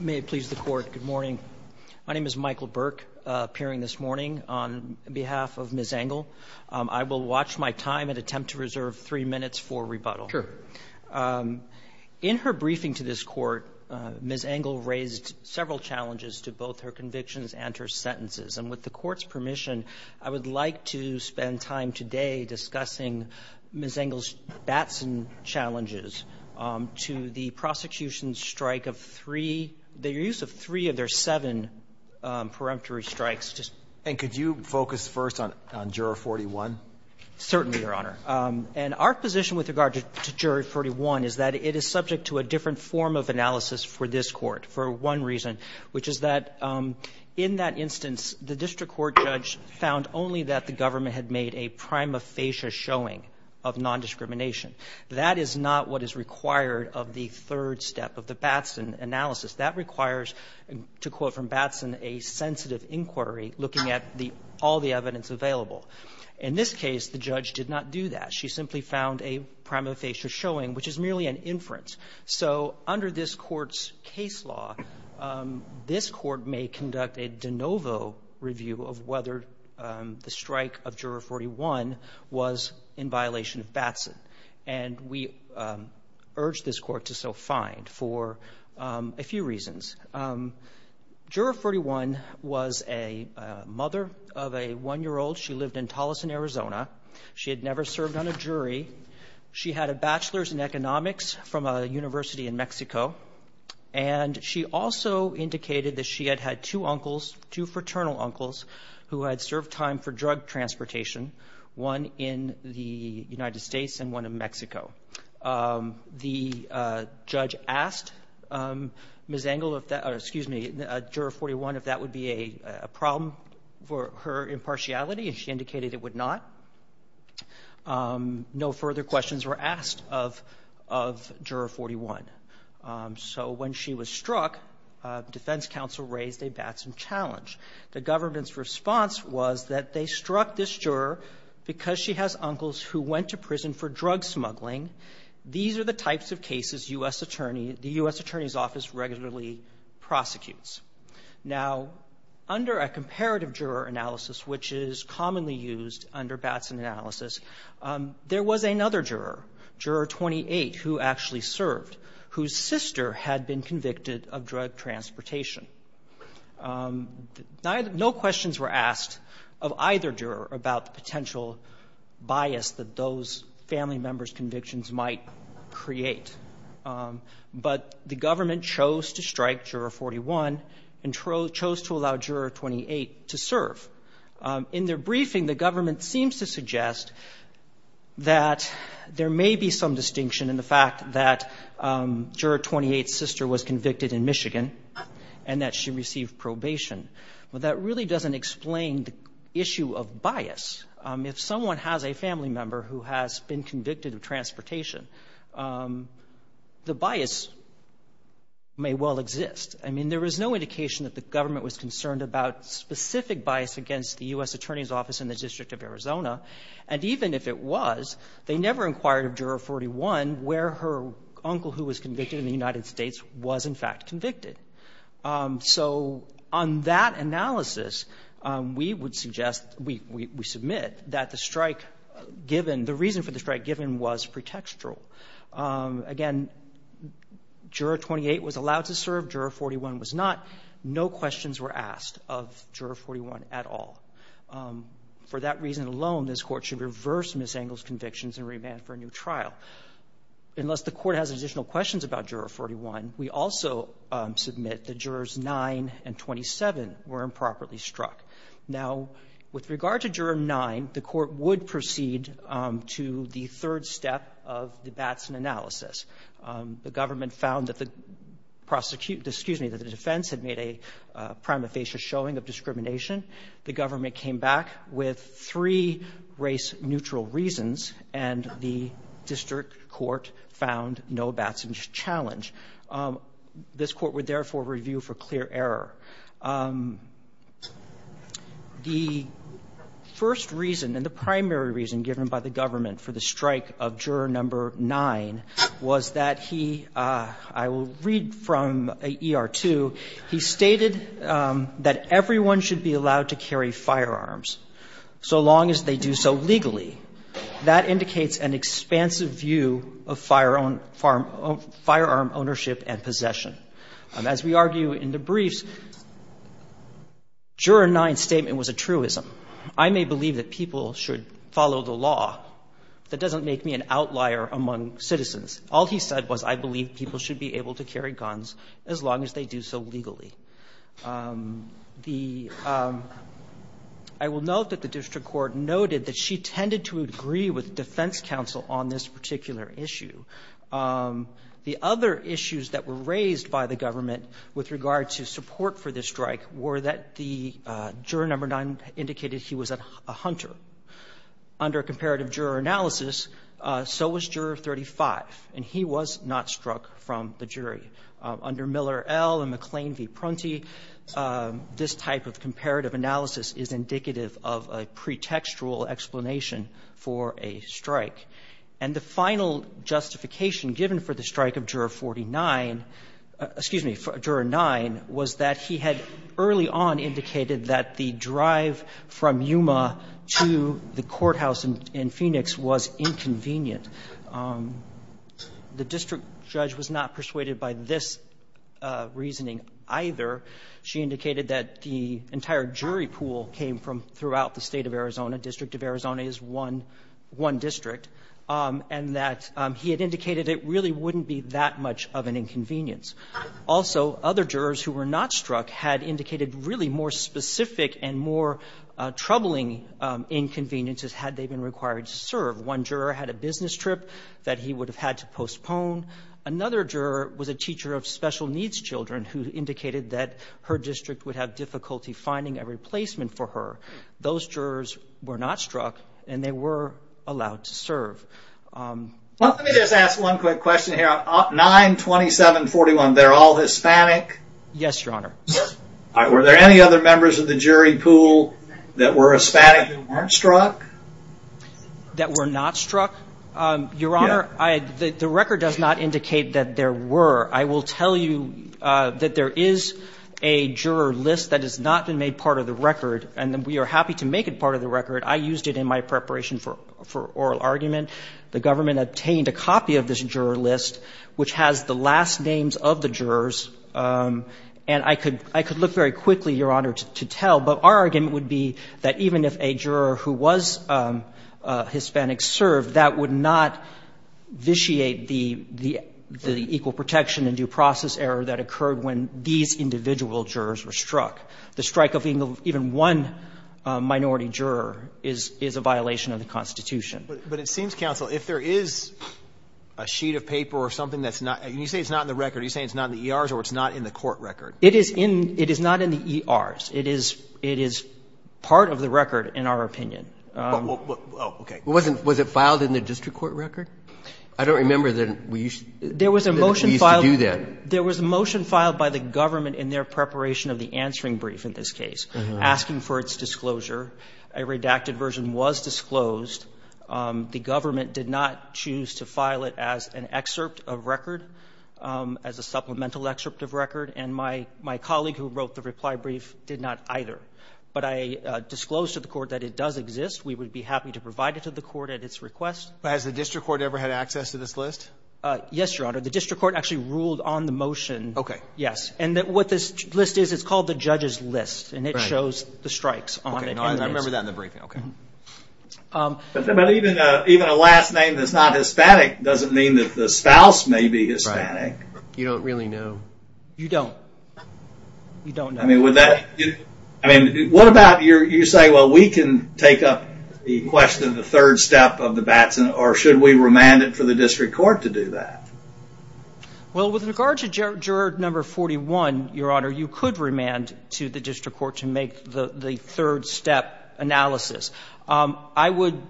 May it please the Court, good morning. My name is Michael Burke, appearing this morning on behalf of Ms. Angle. I will watch my time and attempt to reserve three minutes for rebuttal. In her briefing to this Court, Ms. Angle raised several challenges to both her convictions and her sentences. And with the Court's permission, I would like to spend time today discussing Ms. Angle's Batson challenges to the prosecution's strike of three, the use of three of their seven peremptory strikes. And could you focus first on Juror 41? Certainly, Your Honor. And our position with regard to Juror 41 is that it is subject to a different form of analysis for this Court for one reason, which is that in that instance, the district court judge found only that the government had made a prima facie showing of nondiscrimination. That is not what is required of the third step of the Batson analysis. That requires, to quote from Batson, a sensitive inquiry looking at all the evidence available. In this case, the judge did not do that. She simply found a prima facie showing, which is merely an inference. So under this Court's case law, this Court may conduct a de novo review of whether the strike of Juror 41 was in violation of Batson. And we urge this Court to so find for a few reasons. Juror 41 was a mother of a one-year-old. She lived in Tolleson, Arizona. She had never served on a jury. She had a bachelor's in economics from a university in Mexico, and she also indicated that she had had two uncles, two fraternal uncles, who had served time for drug transportation, one in the United States and one in Mexico. The judge asked Ms. Engel if that or excuse me, Juror 41, if that would be a problem for her impartiality, and she indicated it would not. No further questions were asked of Juror 41. So when she was struck, defense counsel raised a Batson challenge. The government's response was that they struck this juror because she has uncles who went to prison for drug smuggling. These are the types of cases U.S. Attorney the U.S. Attorney's Office regularly prosecutes. Now, under a comparative juror analysis, which is commonly used under Batson analysis, there was another juror, Juror 28, who actually served, whose sister had been convicted of drug transportation. No questions were asked of either juror about the potential bias that those family members' convictions might create. But the government chose to strike Juror 41 and chose to allow Juror 28 to serve. In their briefing, the government seems to suggest that there may be some distinction in the fact that Juror 28's sister was convicted in Michigan and that she received probation. But that really doesn't explain the issue of bias. If someone has a family member who has been convicted of transportation, the bias may well exist. I mean, there is no indication that the government was concerned about specific bias against the U.S. Attorney's Office in the District of Arizona. And even if it was, they never inquired of Juror 41 where her uncle who was convicted in the United States was, in fact, convicted. So on that analysis, we would suggest, we submit that the strike given, the reason for the strike given was pretextual. Again, Juror 28 was allowed to serve. Juror 41 was not. No questions were asked of Juror 41 at all. For that reason alone, this Court should reverse Ms. Engel's convictions and remand for a new trial. Unless the Court has additional questions about Juror 41, we also submit that Jurors 9 and 27 were improperly struck. Now, with regard to Juror 9, the Court would proceed to the third step of the Batson analysis. The government found that the prosecute, excuse me, that the defense had made a prima facie showing of discrimination. The government came back with three race-neutral reasons, and the district court found no Batson challenge. This Court would therefore review for clear error. The first reason and the primary reason given by the government for the strike of Juror 9 was that he, I will read from ER 2, he stated that everyone should be allowed to carry firearms so long as they do so legally. That indicates an expansive view of firearm ownership and possession. As we argue in the briefs, Juror 9's statement was a truism. I may believe that people should follow the law, but that doesn't make me an outlier among citizens. All he said was I believe people should be able to carry guns as long as they do so legally. The – I will note that the district court noted that she tended to agree with defense counsel on this particular issue. The other issues that were raised by the government with regard to support for this strike were that the Juror 9 indicated he was a hunter. Under comparative juror analysis, so was Juror 35, and he was not struck from the jury. Under Miller L. and McLean v. Prunty, this type of comparative analysis is indicative of a pretextual explanation for a strike. And the final justification given for the strike of Juror 49 – excuse me, Juror 9 was that he had early on indicated that the drive from Yuma to the courthouse in Phoenix was inconvenient. The district judge was not persuaded by this reasoning either. She indicated that the entire jury pool came from throughout the State of Arizona, District of Arizona is one district, and that he had indicated it really wouldn't be that much of an inconvenience. Also, other jurors who were not struck had indicated really more specific and more troubling inconveniences had they been required to serve. One juror had a business trip that he would have had to postpone. Another juror was a teacher of special needs children who indicated that her district would have difficulty finding a replacement for her. Those jurors were not struck, and they were allowed to serve. Let me just ask one quick question here. 9, 27, 41, they're all Hispanic? Yes, Your Honor. Were there any other members of the jury pool that were Hispanic and weren't struck? That were not struck? Your Honor, the record does not indicate that there were. I will tell you that there is a juror list that has not been made part of the record, and we are happy to make it part of the record. I used it in my preparation for oral argument. The government obtained a copy of this juror list which has the last names of the jurors, and I could look very quickly, Your Honor, to tell. But our argument would be that even if a juror who was Hispanic served, that would not vitiate the equal protection and due process error that occurred when these individual jurors were struck. The strike of even one minority juror is a violation of the Constitution. But it seems, counsel, if there is a sheet of paper or something that's not – and you say it's not in the record. Are you saying it's not in the ERs or it's not in the court record? It is in – it is not in the ERs. It is part of the record, in our opinion. Oh, okay. Was it filed in the district court record? I don't remember that we used to do that. There was a motion filed by the government in their preparation of the answering brief in this case, asking for its disclosure. A redacted version was disclosed. The government did not choose to file it as an excerpt of record, as a supplemental excerpt of record, and my colleague who wrote the reply brief did not either. But I disclosed to the court that it does exist. We would be happy to provide it to the court at its request. But has the district court ever had access to this list? Yes, Your Honor. The district court actually ruled on the motion. Okay. Yes. And what this list is, it's called the judge's list. Right. And it shows the strikes on it. Okay. I remember that in the briefing. Okay. But even a last name that's not Hispanic doesn't mean that the spouse may be Hispanic. You don't really know. You don't. You don't know. I mean, would that – I mean, what about you say, well, we can take up the question of the third step of the Batson, or should we remand it for the district court to do that? Well, with regard to juror number 41, Your Honor, you could remand to the district court to make the third step analysis. I would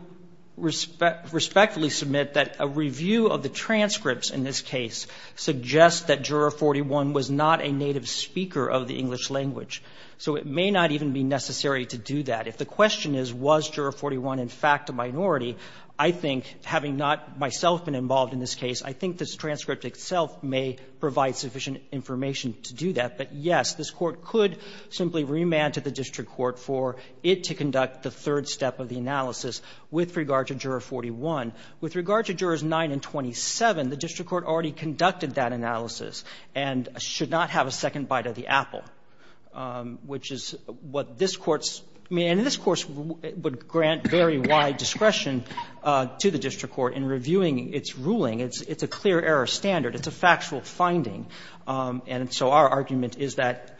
respectfully submit that a review of the transcripts in this case suggests that juror 41 was not a native speaker of the English language. So it may not even be necessary to do that. If the question is, was juror 41 in fact a minority, I think, having not myself been involved in this case, I think this transcript itself may provide sufficient information to do that. But, yes, this Court could simply remand to the district court for it to conduct the third step of the analysis with regard to juror 41. With regard to jurors 9 and 27, the district court already conducted that analysis and should not have a second bite of the apple, which is what this Court's – I mean, in this Course, it would grant very wide discretion to the district court in reviewing its ruling. It's a clear error standard. It's a factual finding. And so our argument is that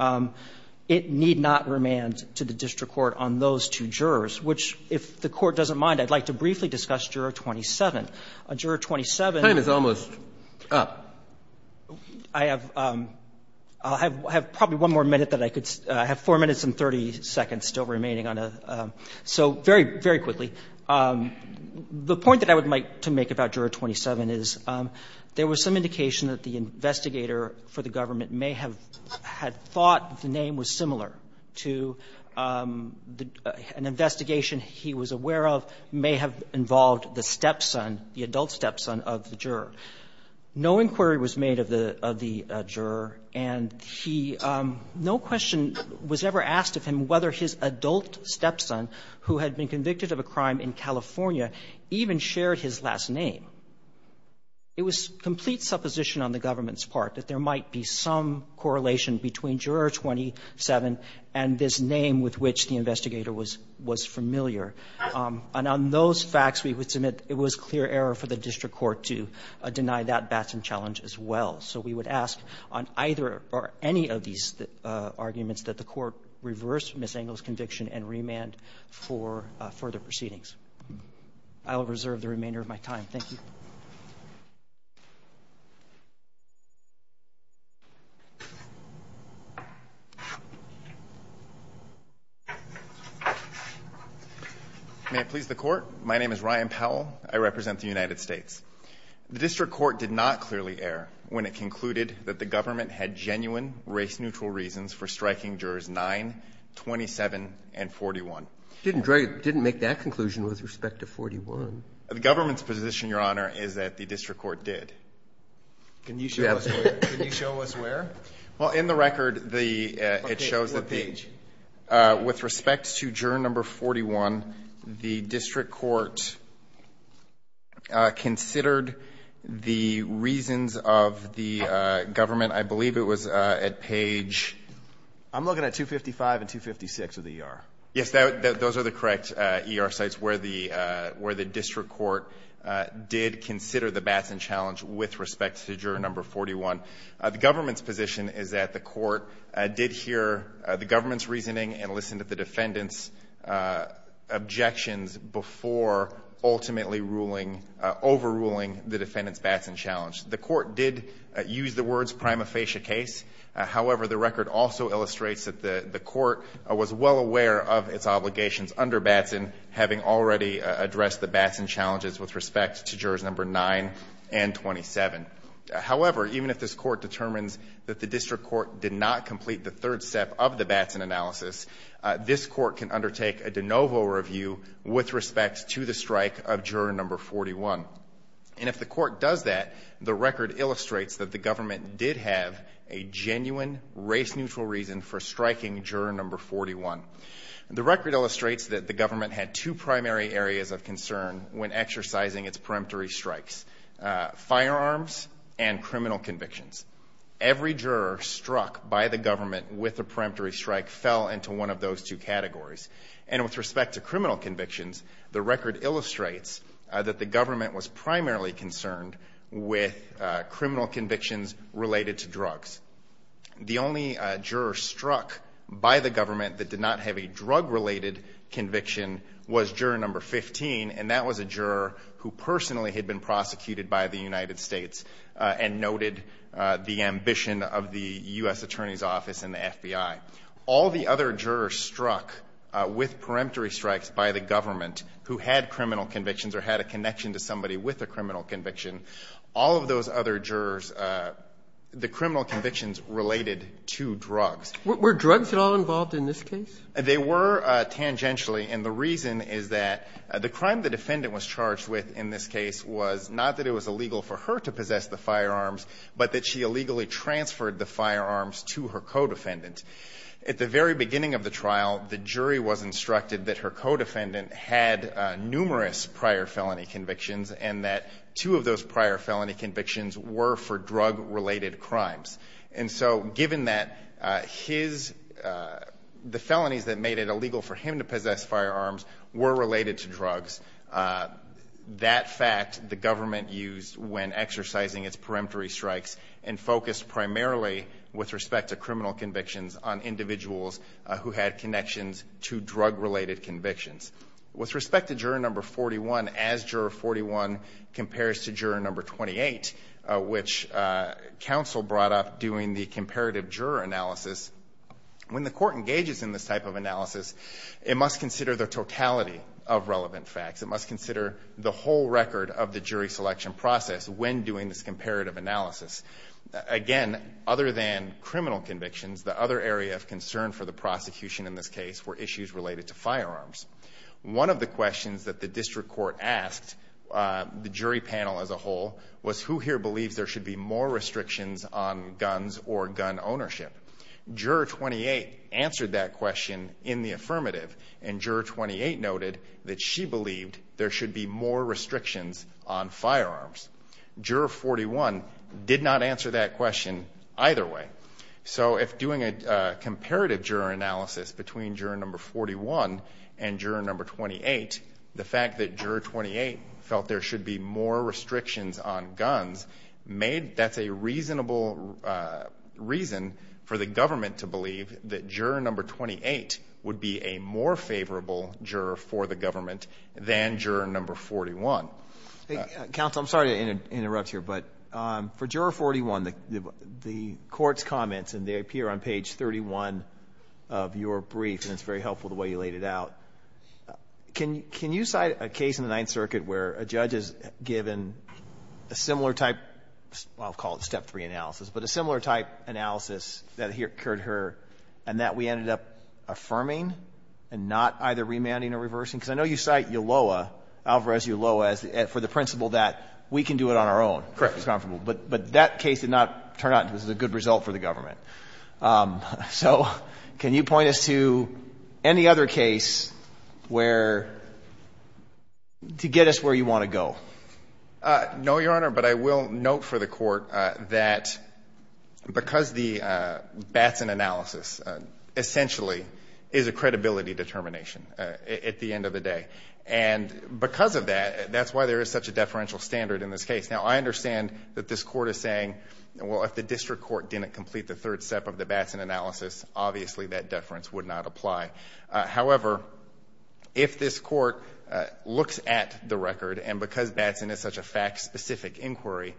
it need not remand to the district court on those two jurors, which, if the Court doesn't mind, I'd like to briefly discuss juror 27. Juror 27. Breyer. Time is almost up. I have probably one more minute that I could – I have 4 minutes and 30 seconds still remaining on a – so very, very quickly. The point that I would like to make about juror 27 is there was some indication that the investigator for the government may have had thought the name was similar to the – an investigation he was aware of may have involved the stepson, the adult stepson of the juror. No inquiry was made of the – of the juror, and he – no question was ever asked of him whether his adult stepson, who had been convicted of a crime in California, even shared his last name. It was complete supposition on the government's part that there might be some correlation between juror 27 and this name with which the investigator was – was familiar. And on those facts, we would submit it was clear error for the district court to deny that Batson challenge as well. So we would ask on either or any of these arguments that the Court reverse Ms. Engel's conviction and remand for further proceedings. I will reserve the remainder of my time. Thank you. May it please the Court. My name is Ryan Powell. I represent the United States. The district court did not clearly err when it concluded that the government had genuine race-neutral reasons for striking jurors 9, 27, and 41. It didn't make that conclusion with respect to 41. The government's position, Your Honor, is that the district court did. Can you show us where? Well, in the record, the – it shows that the – Okay. What page? With respect to juror number 41, the district court considered the reasons of the government. I believe it was at page – I'm looking at 255 and 256 of the ER. Yes. Those are the correct ER sites where the district court did consider the Batson challenge with respect to juror number 41. The government's position is that the court did hear the government's reasoning and listen to the defendant's objections before ultimately ruling – overruling the defendant's Batson challenge. The court did use the words prima facie case. However, the record also illustrates that the court was well aware of its obligations under Batson having already addressed the Batson challenges with respect to jurors number 9 and 27. However, even if this court determines that the district court did not complete the third step of the Batson analysis, this court can undertake a de novo review with respect to the strike of juror number 41. And if the court does that, the record illustrates that the government did have a genuine race-neutral reason for striking juror number 41. The record illustrates that the government had two primary areas of concern when exercising its peremptory strikes, firearms and criminal convictions. Every juror struck by the government with a peremptory strike fell into one of those two categories. And with respect to criminal convictions, the record illustrates that the government was primarily concerned with criminal convictions related to drugs. The only juror struck by the government that did not have a drug-related conviction was juror number 15, and that was a juror who personally had been prosecuted by the United States and noted the ambition of the U.S. Attorney's Office and the FBI. All the other jurors struck with peremptory strikes by the government who had criminal convictions or had a connection to somebody with a criminal conviction, all of those other jurors, the criminal convictions related to drugs. Roberts. Were drugs at all involved in this case? They were tangentially, and the reason is that the crime the defendant was charged with in this case was not that it was illegal for her to possess the firearms, but that she illegally transferred the firearms to her co-defendant. At the very beginning of the trial, the jury was instructed that her co-defendant had numerous prior felony convictions and that two of those prior felony convictions were for drug-related crimes. And so given that the felonies that made it illegal for him to possess firearms were related to drugs, that fact the government used when exercising its powers on individuals who had connections to drug-related convictions. With respect to juror number 41, as juror 41 compares to juror number 28, which counsel brought up doing the comparative juror analysis, when the court engages in this type of analysis, it must consider the totality of relevant facts. It must consider the whole record of the jury selection process when doing this comparative analysis. Again, other than criminal convictions, the other area of concern for the prosecution in this case were issues related to firearms. One of the questions that the district court asked the jury panel as a whole was who here believes there should be more restrictions on guns or gun ownership. Juror 28 answered that question in the affirmative, and juror 28 noted that she believed there should be more restrictions on firearms. Juror 41 did not answer that question either way. So if doing a comparative juror analysis between juror number 41 and juror number 28, the fact that juror 28 felt there should be more restrictions on guns made that's a reasonable reason for the government to believe that juror number 28 would be a more favorable juror for the government than juror number 41. Alito. Counsel, I'm sorry to interrupt here, but for juror 41, the court's comments and they appear on page 31 of your brief, and it's very helpful the way you laid it out. Can you cite a case in the Ninth Circuit where a judge is given a similar type of, I'll call it step three analysis, but a similar type analysis that occurred here and that we ended up affirming and not either remanding or reversing? Because I know you cite Yaloa, Alvarez-Yaloa, for the principle that we can do it on our own. Correct. But that case did not turn out to be a good result for the government. So can you point us to any other case where to get us where you want to go? No, Your Honor, but I will note for the Court that because the Batson analysis essentially is a credibility determination at the end of the day. And because of that, that's why there is such a deferential standard in this case. Now, I understand that this Court is saying, well, if the district court didn't complete the third step of the Batson analysis, obviously that deference would not apply. However, if this Court looks at the record, and because Batson is such a fact-specific inquiry,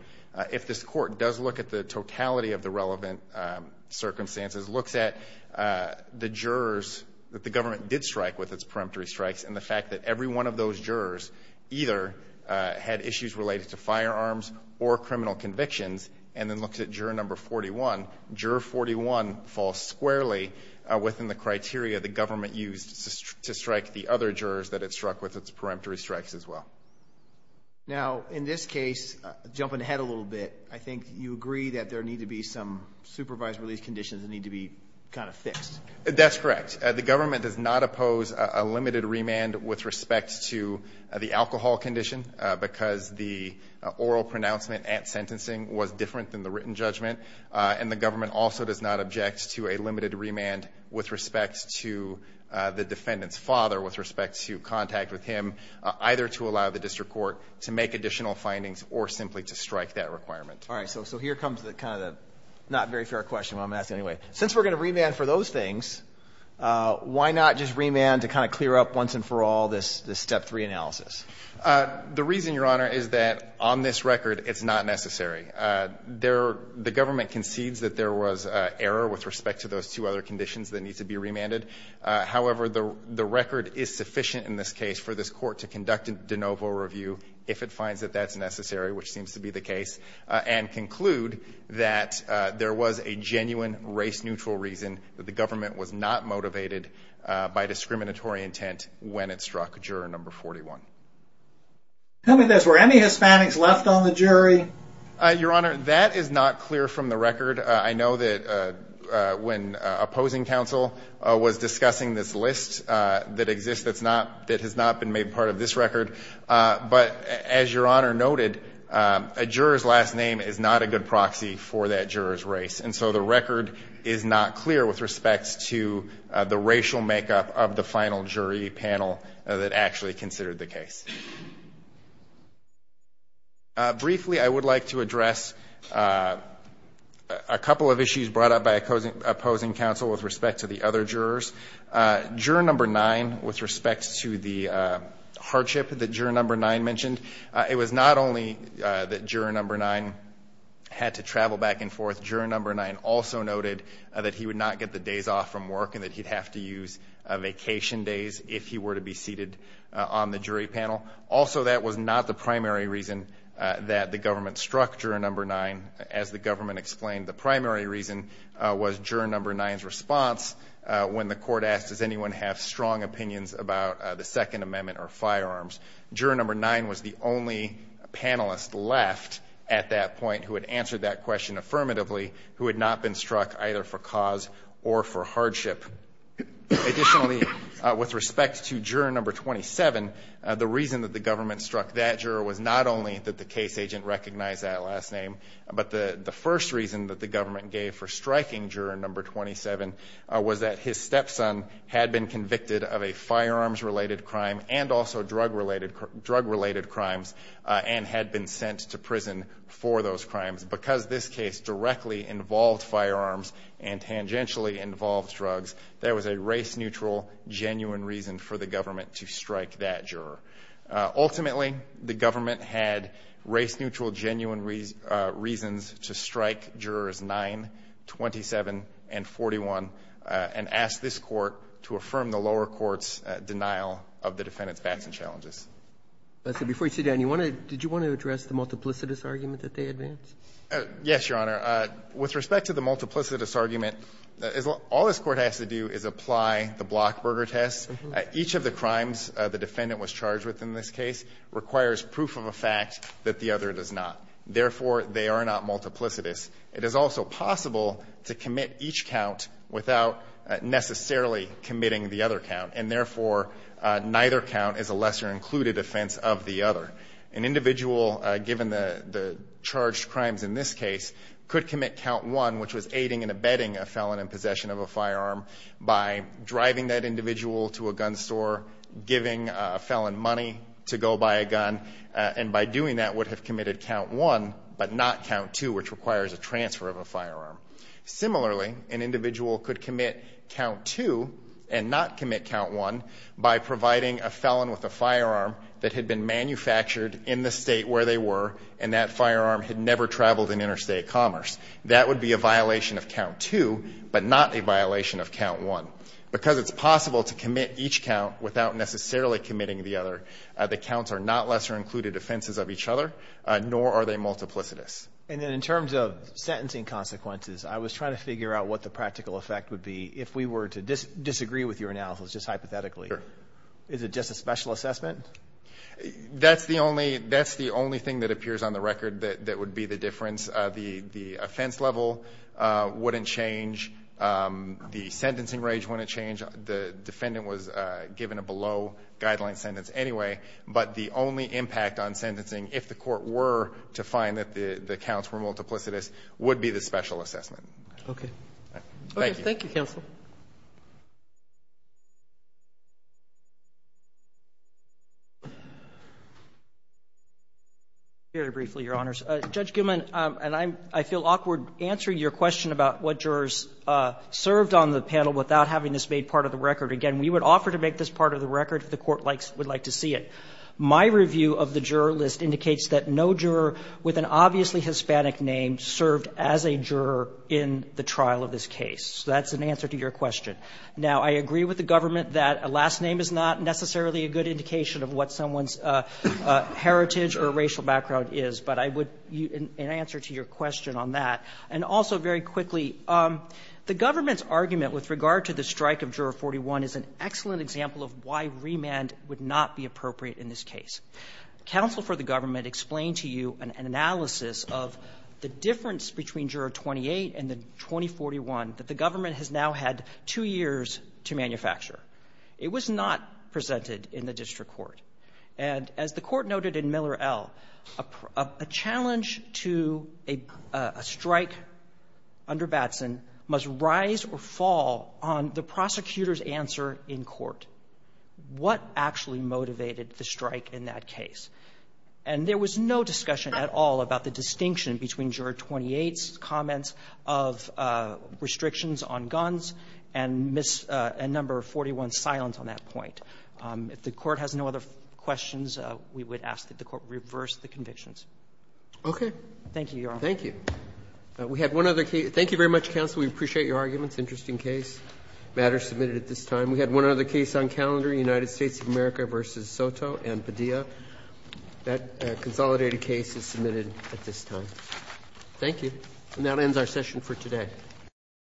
if this Court does look at the totality of the relevant circumstances, looks at the jurors that the government did strike with its peremptory strikes, and the fact that every one of those jurors either had issues related to firearms or criminal convictions, and then looks at juror number 41, juror 41 falls squarely within the criteria the government used to strike the other jurors that it struck with its peremptory strikes as well. Now, in this case, jumping ahead a little bit, I think you agree that there need to be some supervised release conditions that need to be kind of fixed. That's correct. The government does not oppose a limited remand with respect to the alcohol condition because the oral pronouncement at sentencing was different than the written judgment. And the government also does not object to a limited remand with respect to the defendant's father, with respect to contact with him, either to allow the district court to make additional findings or simply to strike that requirement. All right. So here comes kind of the not very fair question I'm asking anyway. Since we're going to remand for those things, why not just remand to kind of clear up once and for all this step three analysis? The reason, Your Honor, is that on this record it's not necessary. The government concedes that there was error with respect to those two other conditions that need to be remanded. However, the record is sufficient in this case for this court to conduct a de novo review if it finds that that's necessary, which seems to be the case, and conclude that there was a genuine race neutral reason that the government was not motivated by discriminatory intent when it struck juror number 41. Tell me this. Were any Hispanics left on the jury? Your Honor, that is not clear from the record. I know that when opposing counsel was discussing this list that exists that has not been made part of this record. But as Your Honor noted, a juror's last name is not a good proxy for that juror's race. And so the record is not clear with respect to the racial makeup of the final jury panel that actually considered the case. Briefly, I would like to address a couple of issues brought up by opposing counsel with respect to the other jurors. Juror number 9, with respect to the hardship that juror number 9 mentioned, it was not only that juror number 9 had to travel back and forth. Juror number 9 also noted that he would not get the days off from work and that he'd have to use vacation days if he were to be seated on the jury panel. Also, that was not the primary reason that the government struck juror number 9. As the government explained, the primary reason was juror number 9's response when the court asked, does anyone have strong opinions about the Second Amendment or firearms? Juror number 9 was the only panelist left at that point who had answered that question affirmatively who had not been struck either for cause or for hardship. Additionally, with respect to juror number 27, the reason that the government struck that juror was not only that the case agent recognized that last name, but the first reason that the government gave for striking juror number 27 was that his stepson had been convicted of a firearms-related crime and also drug-related crimes and had been sent to prison for those crimes. Because this case directly involved firearms and tangentially involved drugs, there was a race-neutral, genuine reason for the government to strike that juror. Ultimately, the government had race-neutral, genuine reasons to strike jurors 9, 27, and 41, and asked this Court to affirm the lower court's denial of the defendant's facts and challenges. Roberts. So before you sit down, you want to – did you want to address the multiplicitous argument that they advanced? Yes, Your Honor. With respect to the multiplicitous argument, all this Court has to do is apply the Blockburger test. Each of the crimes the defendant was charged with in this case requires proof of a fact that the other does not. Therefore, they are not multiplicitous. It is also possible to commit each count without necessarily committing the other count, and therefore, neither count is a lesser-included offense of the other. An individual, given the charged crimes in this case, could commit count 1, which was aiding and abetting a felon in possession of a firearm, by driving that individual to a gun store, giving a felon money to go buy a gun, and by doing that would have committed count 1, but not count 2, which requires a transfer of a firearm. Similarly, an individual could commit count 2 and not commit count 1 by providing a felon with a firearm that had been manufactured in the state where they were, and that firearm had never traveled in interstate commerce. That would be a violation of count 2, but not a violation of count 1. Because it's possible to commit each count without necessarily committing the other, the counts are not lesser-included offenses of each other, nor are they multiplicitous. And then in terms of sentencing consequences, I was trying to figure out what the practical effect would be if we were to disagree with your analysis just hypothetically. Sure. Is it just a special assessment? That's the only thing that appears on the record that would be the difference. The offense level wouldn't change. The sentencing range wouldn't change. The defendant was given a below-guideline sentence anyway. But the only impact on sentencing, if the court were to find that the counts were multiplicitous, would be the special assessment. Okay. Thank you. Thank you, counsel. Very briefly, Your Honors. Judge Gilman, and I feel awkward answering your question about what jurors served on the panel without having this made part of the record. Again, we would offer to make this part of the record if the Court would like to see it. My review of the juror list indicates that no juror with an obviously Hispanic name served as a juror in the trial of this case. So that's an answer to your question. Now, I agree with the government that a last name is not necessarily a good indication of what someone's heritage or racial background is, but I would, in answer to your question on that, and also very quickly, the government's argument with regard to the strike of Juror 41 is an excellent example of why remand would not be appropriate in this case. Counsel for the government explained to you an analysis of the difference between Juror 28 and the 2041 that the government has now had two years to manufacture. It was not presented in the district court. And as the Court noted in Miller L., a challenge to a strike under Batson must rise or fall on the prosecutor's answer in court. What actually motivated the strike in that case? And there was no discussion at all about the distinction between Juror 28's comments of restrictions on guns and number 41's silence on that point. If the Court has no other questions, we would ask that the Court reverse the convictions. Thank you, Your Honor. Roberts. Thank you. We had one other case. Thank you very much, counsel. We appreciate your arguments. Interesting case. Matters submitted at this time. We had one other case on calendar, United States of America v. Soto and Padilla. That consolidated case is submitted at this time. Thank you. And that ends our session for today.